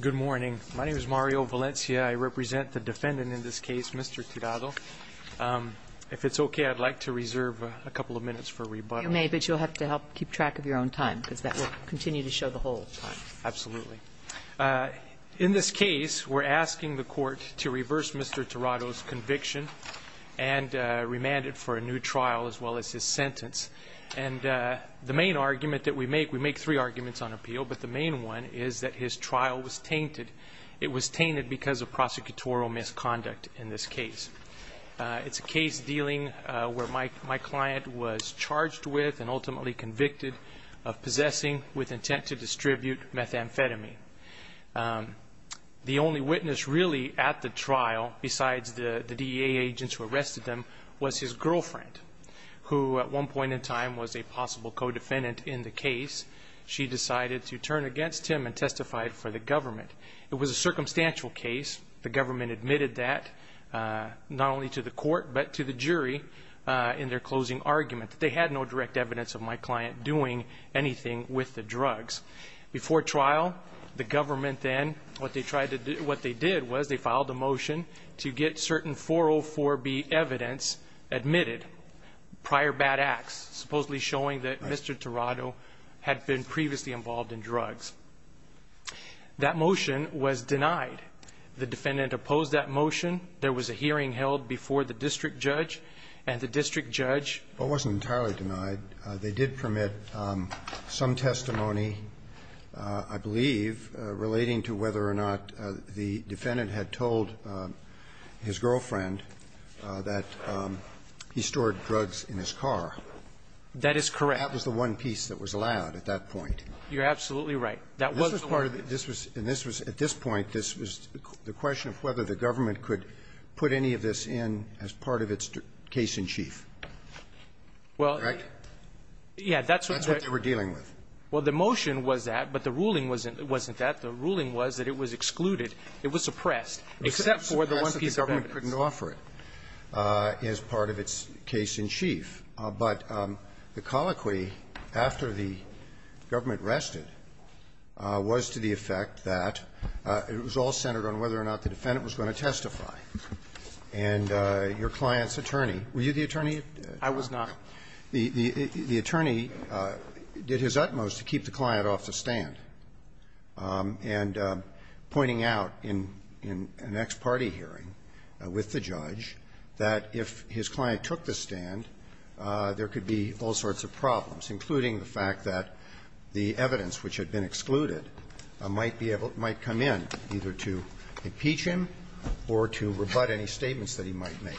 Good morning. My name is Mario Valencia. I represent the defendant in this case, Mr. Tirado. If it's okay, I'd like to reserve a couple of minutes for rebuttal. You may, but you'll have to help keep track of your own time because that will continue to show the whole time. Absolutely. In this case, we're asking the court to reverse Mr. Tirado's conviction and remand it for a new trial as well as his sentence. The main argument that we make, we make three arguments on appeal, but the main one is that his trial was tainted. It was tainted because of prosecutorial misconduct in this case. It's a case dealing where my client was charged with and ultimately convicted of possessing with intent to distribute methamphetamine. The only witness really at the trial besides the DEA agents who arrested him was his girlfriend, who at one point in time was a possible co-defendant in the case. She decided to turn against him and testified for the government. It was a circumstantial case. The government admitted that not only to the court but to the jury in their closing argument. They had no direct evidence of my client doing anything with the drugs. Before trial, the government then, what they tried to do, what they did was they filed a motion to get certain 404B evidence admitted, prior bad acts, supposedly showing that Mr. Tirado had been previously involved in drugs. That motion was denied. The defendant opposed that motion. There was a hearing held before the district judge, and the district judge... I believe, relating to whether or not the defendant had told his girlfriend that he stored drugs in his car. That is correct. That was the one piece that was allowed at that point. You're absolutely right. That was the one. This was part of it. This was at this point, this was the question of whether the government could put any of this in as part of its case-in-chief. Well... Right? That's what they were dealing with. Well, the motion was that, but the ruling wasn't that. The ruling was that it was excluded, it was suppressed, except for the one piece of evidence. Except for the government couldn't offer it as part of its case-in-chief. But the colloquy after the government rested was to the effect that it was all centered on whether or not the defendant was going to testify. And your client's attorney, were you the attorney? I was not. The attorney did his utmost to keep the client off the stand. And pointing out in an ex parte hearing with the judge that if his client took the stand, there could be all sorts of problems, including the fact that the evidence which had been excluded might be able to come in either to impeach him or to rebut any statements that he might make.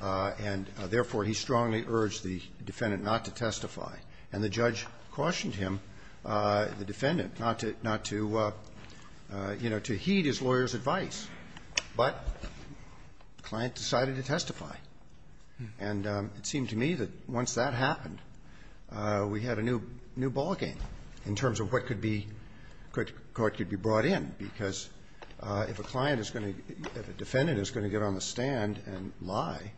And, therefore, he strongly urged the defendant not to testify. And the judge cautioned him, the defendant, not to, you know, to heed his lawyer's advice. But the client decided to testify. And it seemed to me that once that happened, we had a new ballgame in terms of what could be brought in, because if a client is going to, if a defendant is going to get on the stand and lie,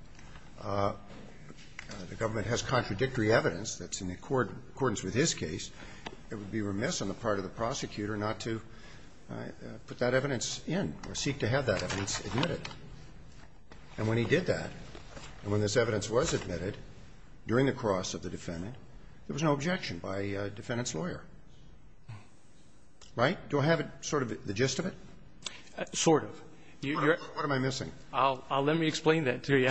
the government has contradictory evidence that's in accordance with his case. It would be remiss on the part of the prosecutor not to put that evidence in or seek to have that evidence admitted. And when he did that, and when this evidence was admitted during the cross of the defendant, there was no objection by the defendant's lawyer. Right? Do I have sort of the gist of it? Sort of. What am I missing? I'll let me explain that to you.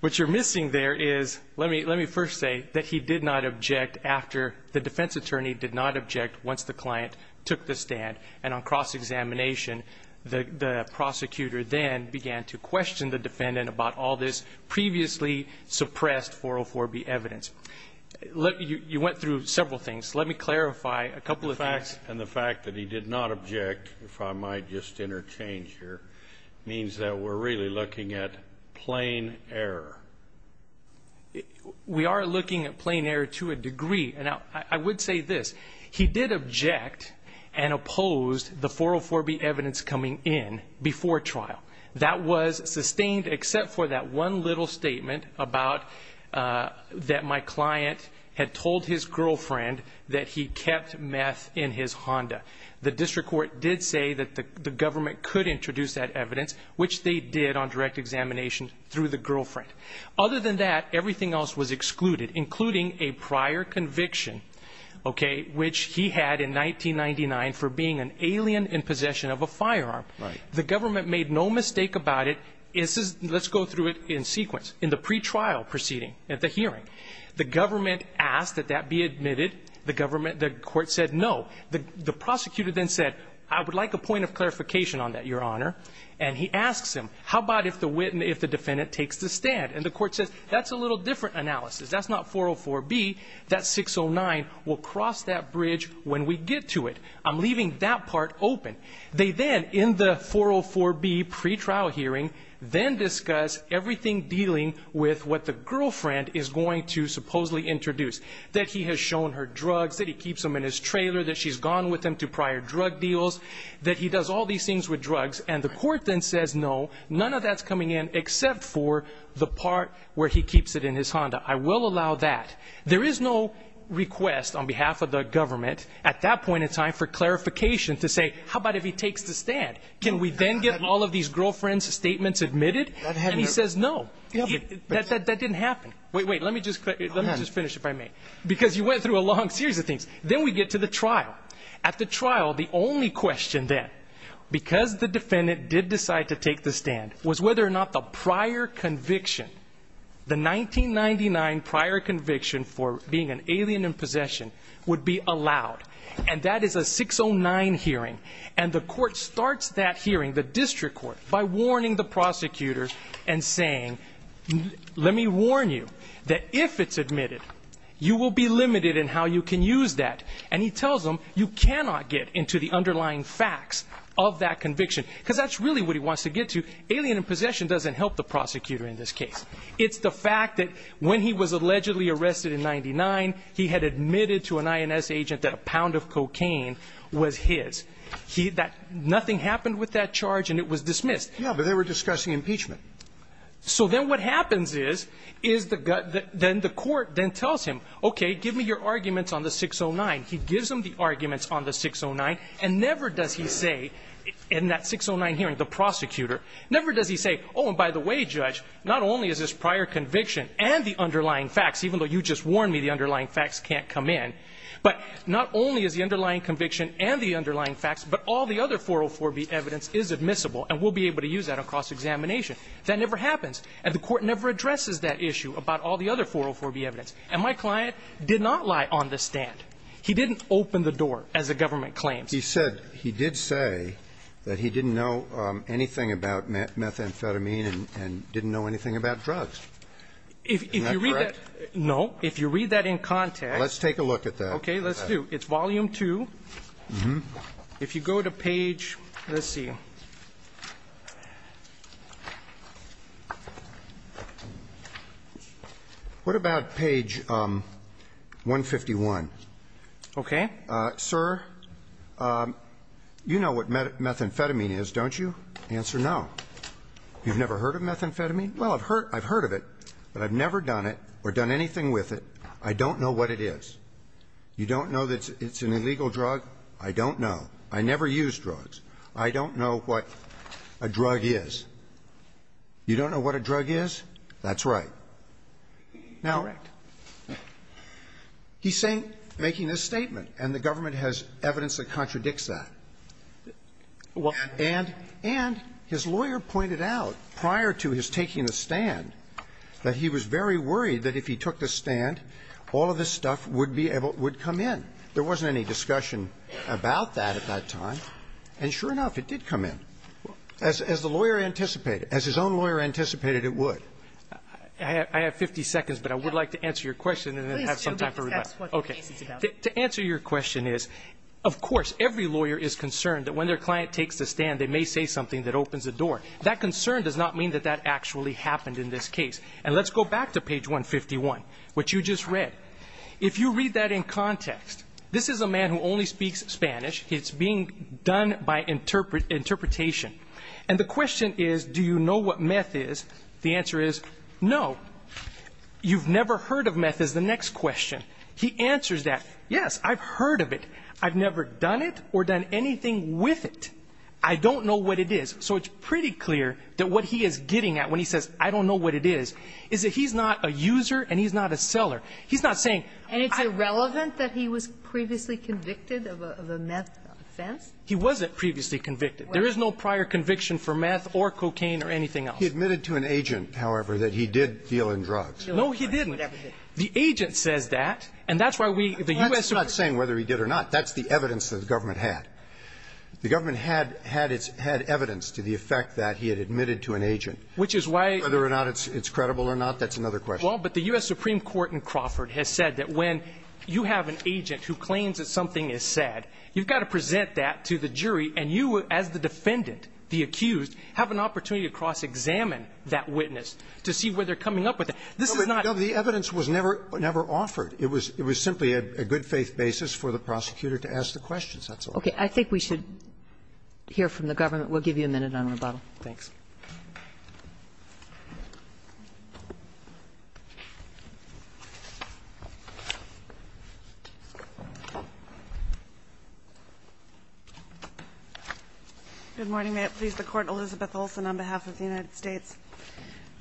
What you're missing there is, let me first say that he did not object after the defense attorney did not object once the client took the stand. And on cross-examination, the prosecutor then began to question the defendant about all this previously suppressed 404B evidence. You went through several things. Let me clarify a couple of things. And the fact that he did not object, if I might just interchange here, means that we're really looking at plain error. We are looking at plain error to a degree. And I would say this. He did object and oppose the 404B evidence coming in before trial. That was sustained except for that one little statement about that my client had The district court did say that the government could introduce that evidence, which they did on direct examination through the girlfriend. Other than that, everything else was excluded, including a prior conviction, okay, which he had in 1999 for being an alien in possession of a firearm. Right. The government made no mistake about it. Let's go through it in sequence. In the pretrial proceeding at the hearing, the government asked that that be admitted. The government, the court said no. The prosecutor then said, I would like a point of clarification on that, Your Honor. And he asks him, how about if the defendant takes the stand? And the court says, that's a little different analysis. That's not 404B. That's 609. We'll cross that bridge when we get to it. I'm leaving that part open. They then, in the 404B pretrial hearing, then discuss everything dealing with what the girlfriend is going to supposedly introduce, that he has shown her drugs, that he keeps them in his trailer, that she's gone with him to prior drug deals, that he does all these things with drugs. And the court then says no. None of that's coming in except for the part where he keeps it in his Honda. I will allow that. There is no request on behalf of the government at that point in time for clarification to say, how about if he takes the stand? Can we then get all of these girlfriends' statements admitted? And he says no. That didn't happen. Wait, wait, let me just finish if I may. Because you went through a long series of things. Then we get to the trial. At the trial, the only question then, because the defendant did decide to take the stand, was whether or not the prior conviction, the 1999 prior conviction for being an alien in possession, would be allowed. And that is a 609 hearing. And the court starts that hearing, the district court, by warning the prosecutors and saying, let me warn you that if it's admitted, you will be limited in how you can use that. And he tells them you cannot get into the underlying facts of that conviction because that's really what he wants to get to. Alien in possession doesn't help the prosecutor in this case. It's the fact that when he was allegedly arrested in 1999, he had admitted to an INS agent that a pound of cocaine was his. He had that. Nothing happened with that charge, and it was dismissed. Yeah, but they were discussing impeachment. So then what happens is, is the gut, then the court then tells him, okay, give me your arguments on the 609. He gives them the arguments on the 609, and never does he say, in that 609 hearing, the prosecutor, never does he say, oh, and by the way, Judge, not only is this prior conviction and the underlying facts, even though you just warned me the underlying facts can't come in, but not only is the underlying conviction and the underlying facts, but all the other 404B evidence is admissible, and we'll be able to use that across examination. That never happens, and the court never addresses that issue about all the other 404B evidence. And my client did not lie on the stand. He didn't open the door, as the government claims. He said he did say that he didn't know anything about methamphetamine and didn't know anything about drugs. Is that correct? No. If you read that in context. Let's take a look at that. Okay. Let's do. It's volume two. If you go to page, let's see. What about page 151? Okay. Sir, you know what methamphetamine is, don't you? Answer no. You've never heard of methamphetamine? Well, I've heard of it, but I've never done it or done anything with it. I don't know what it is. You don't know that it's an illegal drug? I don't know. I never use drugs. I don't know what a drug is. You don't know what a drug is? That's right. Now, he's saying, making this statement, and the government has evidence that contradicts that. And his lawyer pointed out, prior to his taking the stand, that he was very worried that if he took the stand, all of this stuff would come in. There wasn't any discussion about that at that time. And sure enough, it did come in. As the lawyer anticipated, as his own lawyer anticipated, it would. I have 50 seconds, but I would like to answer your question and then have some time for rebuttal. Okay. To answer your question is, of course, every lawyer is concerned that when their client takes the stand, they may say something that opens the door. That concern does not mean that that actually happened in this case. And let's go back to page 151, which you just read. If you read that in context, this is a man who only speaks Spanish. It's being done by interpretation. And the question is, do you know what meth is? The answer is, no. You've never heard of meth is the next question. He answers that, yes, I've heard of it. I've never done it or done anything with it. I don't know what it is. So it's pretty clear that what he is getting at when he says, I don't know what it is, is that he's not a user and he's not a seller. He's not saying I don't know. And it's irrelevant that he was previously convicted of a meth offense? He wasn't previously convicted. There is no prior conviction for meth or cocaine or anything else. He admitted to an agent, however, that he did deal in drugs. No, he didn't. The agent says that, and that's why we, the U.S. Supreme Court. That's not saying whether he did or not. That's the evidence that the government had. The government had evidence to the effect that he had admitted to an agent. Which is why. Whether or not it's credible or not, that's another question. Well, but the U.S. Supreme Court in Crawford has said that when you have an agent who claims that something is said, you've got to present that to the jury, and you as the defendant, the accused, have an opportunity to cross-examine that witness to see where they're coming up with it. This is not. No, but the evidence was never offered. It was simply a good-faith basis for the prosecutor to ask the questions. That's all. Okay. I think we should hear from the government. We'll give you a minute on rebuttal. Thanks. Good morning. May it please the Court. Elizabeth Olson on behalf of the United States.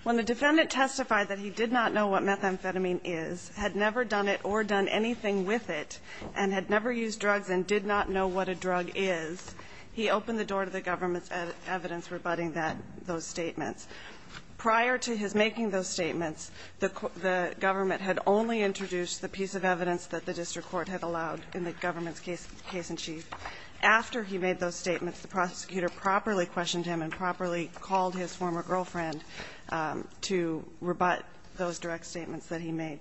When the defendant testified that he did not know what methamphetamine is, had never done it or done anything with it, and had never used drugs and did not know what a drug is, he opened the door to the government's evidence rebutting that those statements. Prior to his making those statements, the government had only introduced the piece of evidence that the district court had allowed in the government's case in chief. After he made those statements, the prosecutor properly questioned him and properly called his former girlfriend to rebut those direct statements that he made.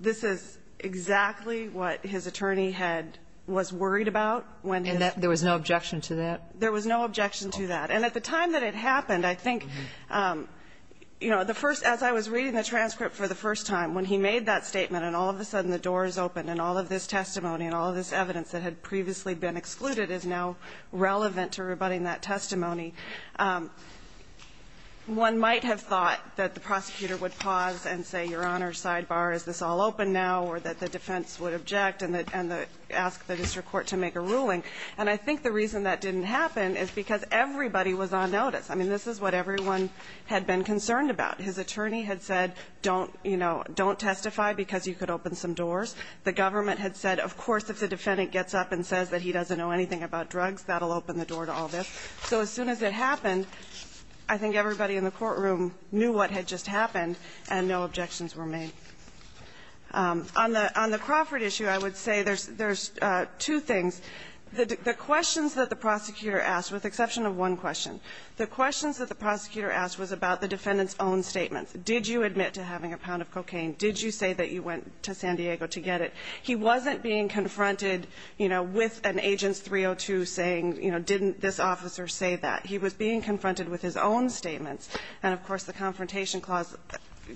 This is exactly what his attorney had was worried about when his ---- And there was no objection to that? There was no objection to that. And at the time that it happened, I think, you know, the first ---- as I was reading the transcript for the first time, when he made that statement and all of a sudden the doors opened and all of this testimony and all of this evidence that had previously been excluded is now relevant to rebutting that testimony, one might have thought that the prosecutor would pause and say, Your Honor, sidebar, is this all open now, or that the defense would object and ask the district court to make a ruling. And I think the reason that didn't happen is because everybody was on notice. I mean, this is what everyone had been concerned about. His attorney had said don't, you know, don't testify because you could open some doors. The government had said, of course, if the defendant gets up and says that he doesn't know anything about drugs, that will open the door to all this. So as soon as it happened, I think everybody in the courtroom knew what had just happened and no objections were made. On the Crawford issue, I would say there's two things. The questions that the prosecutor asked, with the exception of one question, the questions that the prosecutor asked was about the defendant's own statements. Did you admit to having a pound of cocaine? Did you say that you went to San Diego to get it? He wasn't being confronted, you know, with an Agents 302 saying, you know, didn't this officer say that? He was being confronted with his own statements. And, of course, the Confrontation Clause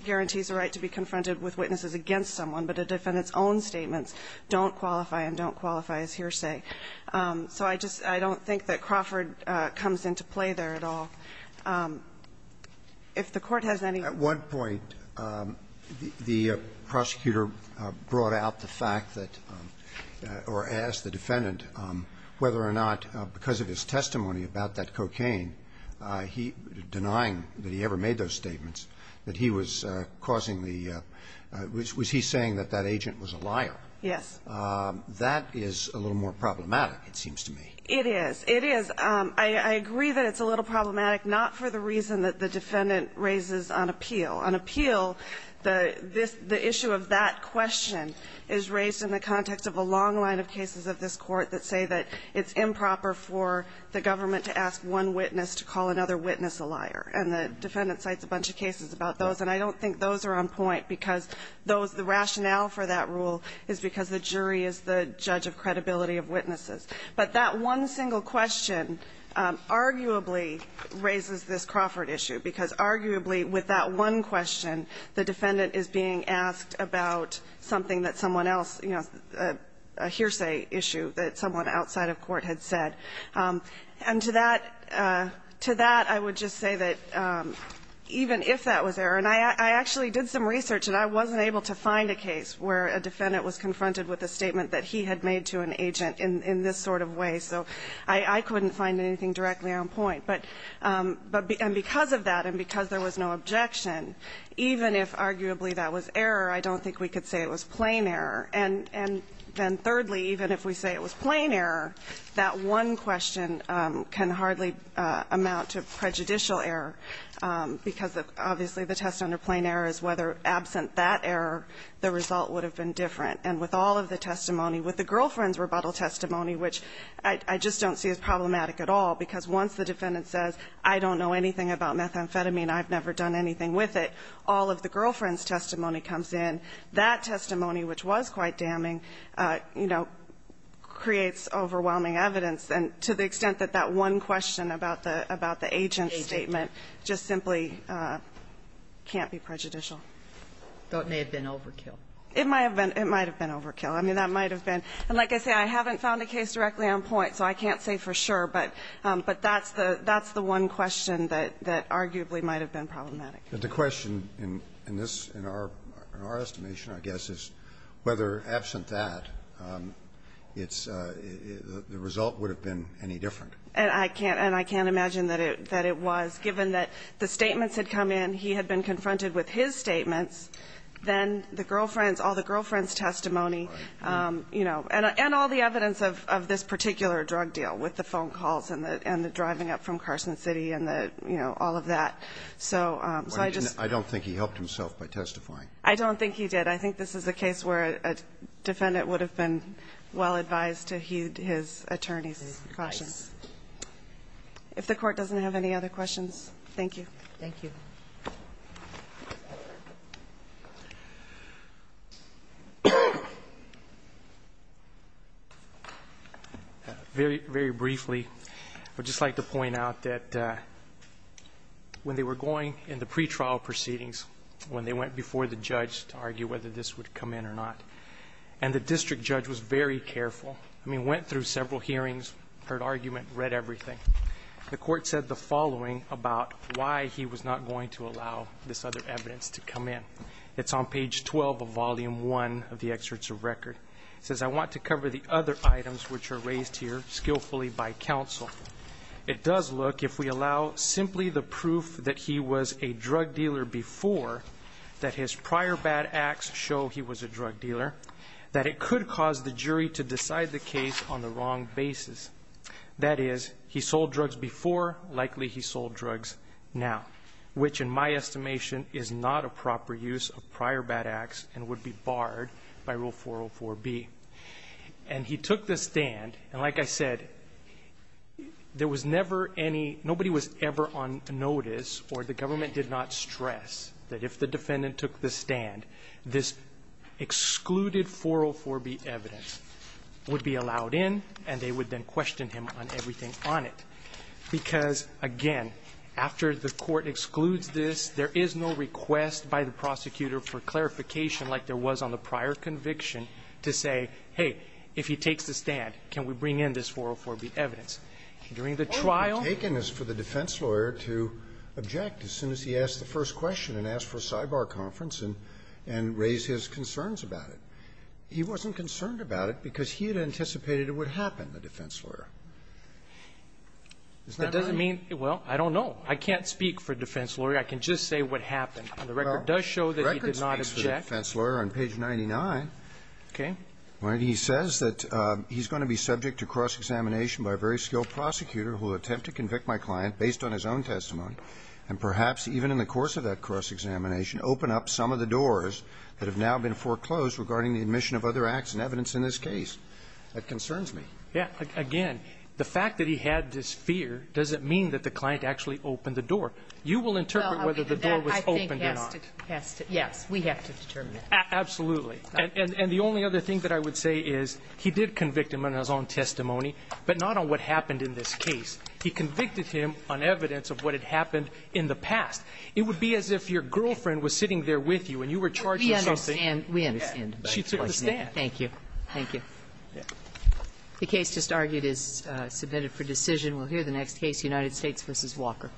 guarantees a right to be confronted with witnesses against someone, but a defendant's own statements don't qualify and don't qualify as hearsay. So I just don't think that Crawford comes into play there at all. If the Court has any questions. Roberts. At one point, the prosecutor brought out the fact that or asked the defendant whether or not, because of his testimony about that cocaine, he denying that he ever made those statements, that he was causing the was he saying that that agent was a liar? Yes. That is a little more problematic, it seems to me. It is. It is. I agree that it's a little problematic, not for the reason that the defendant raises on appeal. On appeal, the issue of that question is raised in the context of a long line of cases of this Court that say that it's improper for the government to ask one witness to call another witness a liar. And the defendant cites a bunch of cases about those, and I don't think those are on point, because the rationale for that rule is because the jury is the judge of credibility of witnesses. But that one single question arguably raises this Crawford issue, because arguably with that one question, the defendant is being asked about something that someone else, you know, a hearsay issue that someone outside of court had said. And to that, to that, I would just say that even if that was there, and I actually did some research and I wasn't able to find a case where a defendant was confronted with a statement that he had made to an agent in this sort of way, so I couldn't find anything directly on point. But because of that and because there was no objection, even if arguably that was error, I don't think we could say it was plain error. And then thirdly, even if we say it was plain error, that one question can hardly amount to prejudicial error, because obviously the test under plain error is whether absent that error, the result would have been different. And with all of the testimony, with the girlfriend's rebuttal testimony, which I just don't see as problematic at all, because once the defendant says, I don't know anything about methamphetamine, I've never done anything with it, all of the girlfriend's testimony comes in. That testimony, which was quite damning, you know, creates overwhelming evidence. And to the extent that that one question about the agent's statement just simply can't be prejudicial. But it may have been overkill. It might have been. It might have been overkill. I mean, that might have been. And like I say, I haven't found a case directly on point, so I can't say for sure. But that's the one question that arguably might have been problematic. But the question in this, in our estimation, I guess, is whether absent that, it's the result would have been any different. And I can't imagine that it was, given that the statements had come in, he had been confronted with his statements, then the girlfriend's, all the girlfriend's testimony, you know, and all the evidence of this particular drug deal with the phone calls and the driving up from Carson City and the, you know, all of that. So I just. I don't think he helped himself by testifying. I don't think he did. I think this is a case where a defendant would have been well advised to heed his If the Court doesn't have any other questions, thank you. Thank you. Very briefly, I would just like to point out that when they were going in the pretrial proceedings, when they went before the judge to argue whether this would come in or not, and the district judge was very careful, I mean, went through several hearings, heard argument, read everything. The Court said the following about why he was not going to allow this other evidence to come in. It's on page 12 of volume 1 of the excerpts of record. It says, I want to cover the other items which are raised here skillfully by counsel. It does look, if we allow simply the proof that he was a drug dealer before, that his prior bad acts show he was a drug dealer, that it could cause the jury to decide the case on the wrong basis. That is, he sold drugs before, likely he sold drugs now, which in my estimation is not a proper use of prior bad acts and would be barred by Rule 404B. And he took the stand, and like I said, there was never any – nobody was ever on notice or the government did not stress that if the defendant took the stand, this excluded 404B evidence would be allowed in, and they would then question him on everything on it, because, again, after the Court excludes this, there is no request by the prosecutor for clarification like there was on the prior conviction to say, hey, if he takes the stand, can we bring in this 404B evidence? During the trial – Scalia. Well, it would have taken us for the defense lawyer to object as soon as he asked the first question and ask for a sidebar conference and raise his concerns about it. He wasn't concerned about it because he had anticipated it would happen, the defense lawyer. Isn't that right? That doesn't mean – well, I don't know. I can't speak for defense lawyer. I can just say what happened. And the record does show that he did not object. Well, the record speaks for the defense lawyer on page 99. Okay. When he says that he's going to be subject to cross-examination by a very skilled prosecutor who will attempt to convict my client based on his own testimony, and perhaps even in the course of that cross-examination, open up some of the doors that have now been foreclosed regarding the admission of other acts and evidence in this case, that concerns me. Yeah. Again, the fact that he had this fear doesn't mean that the client actually opened the door. You will interpret whether the door was opened or not. Well, I think that has to – yes. We have to determine that. Absolutely. And the only other thing that I would say is he did convict him on his own testimony, but not on what happened in this case. He convicted him on evidence of what had happened in the past. It would be as if your girlfriend was sitting there with you and you were charged with something. We understand. We understand. She took a stand. Thank you. Thank you. The case just argued is submitted for decision. We'll hear the next case, United States v. Walker.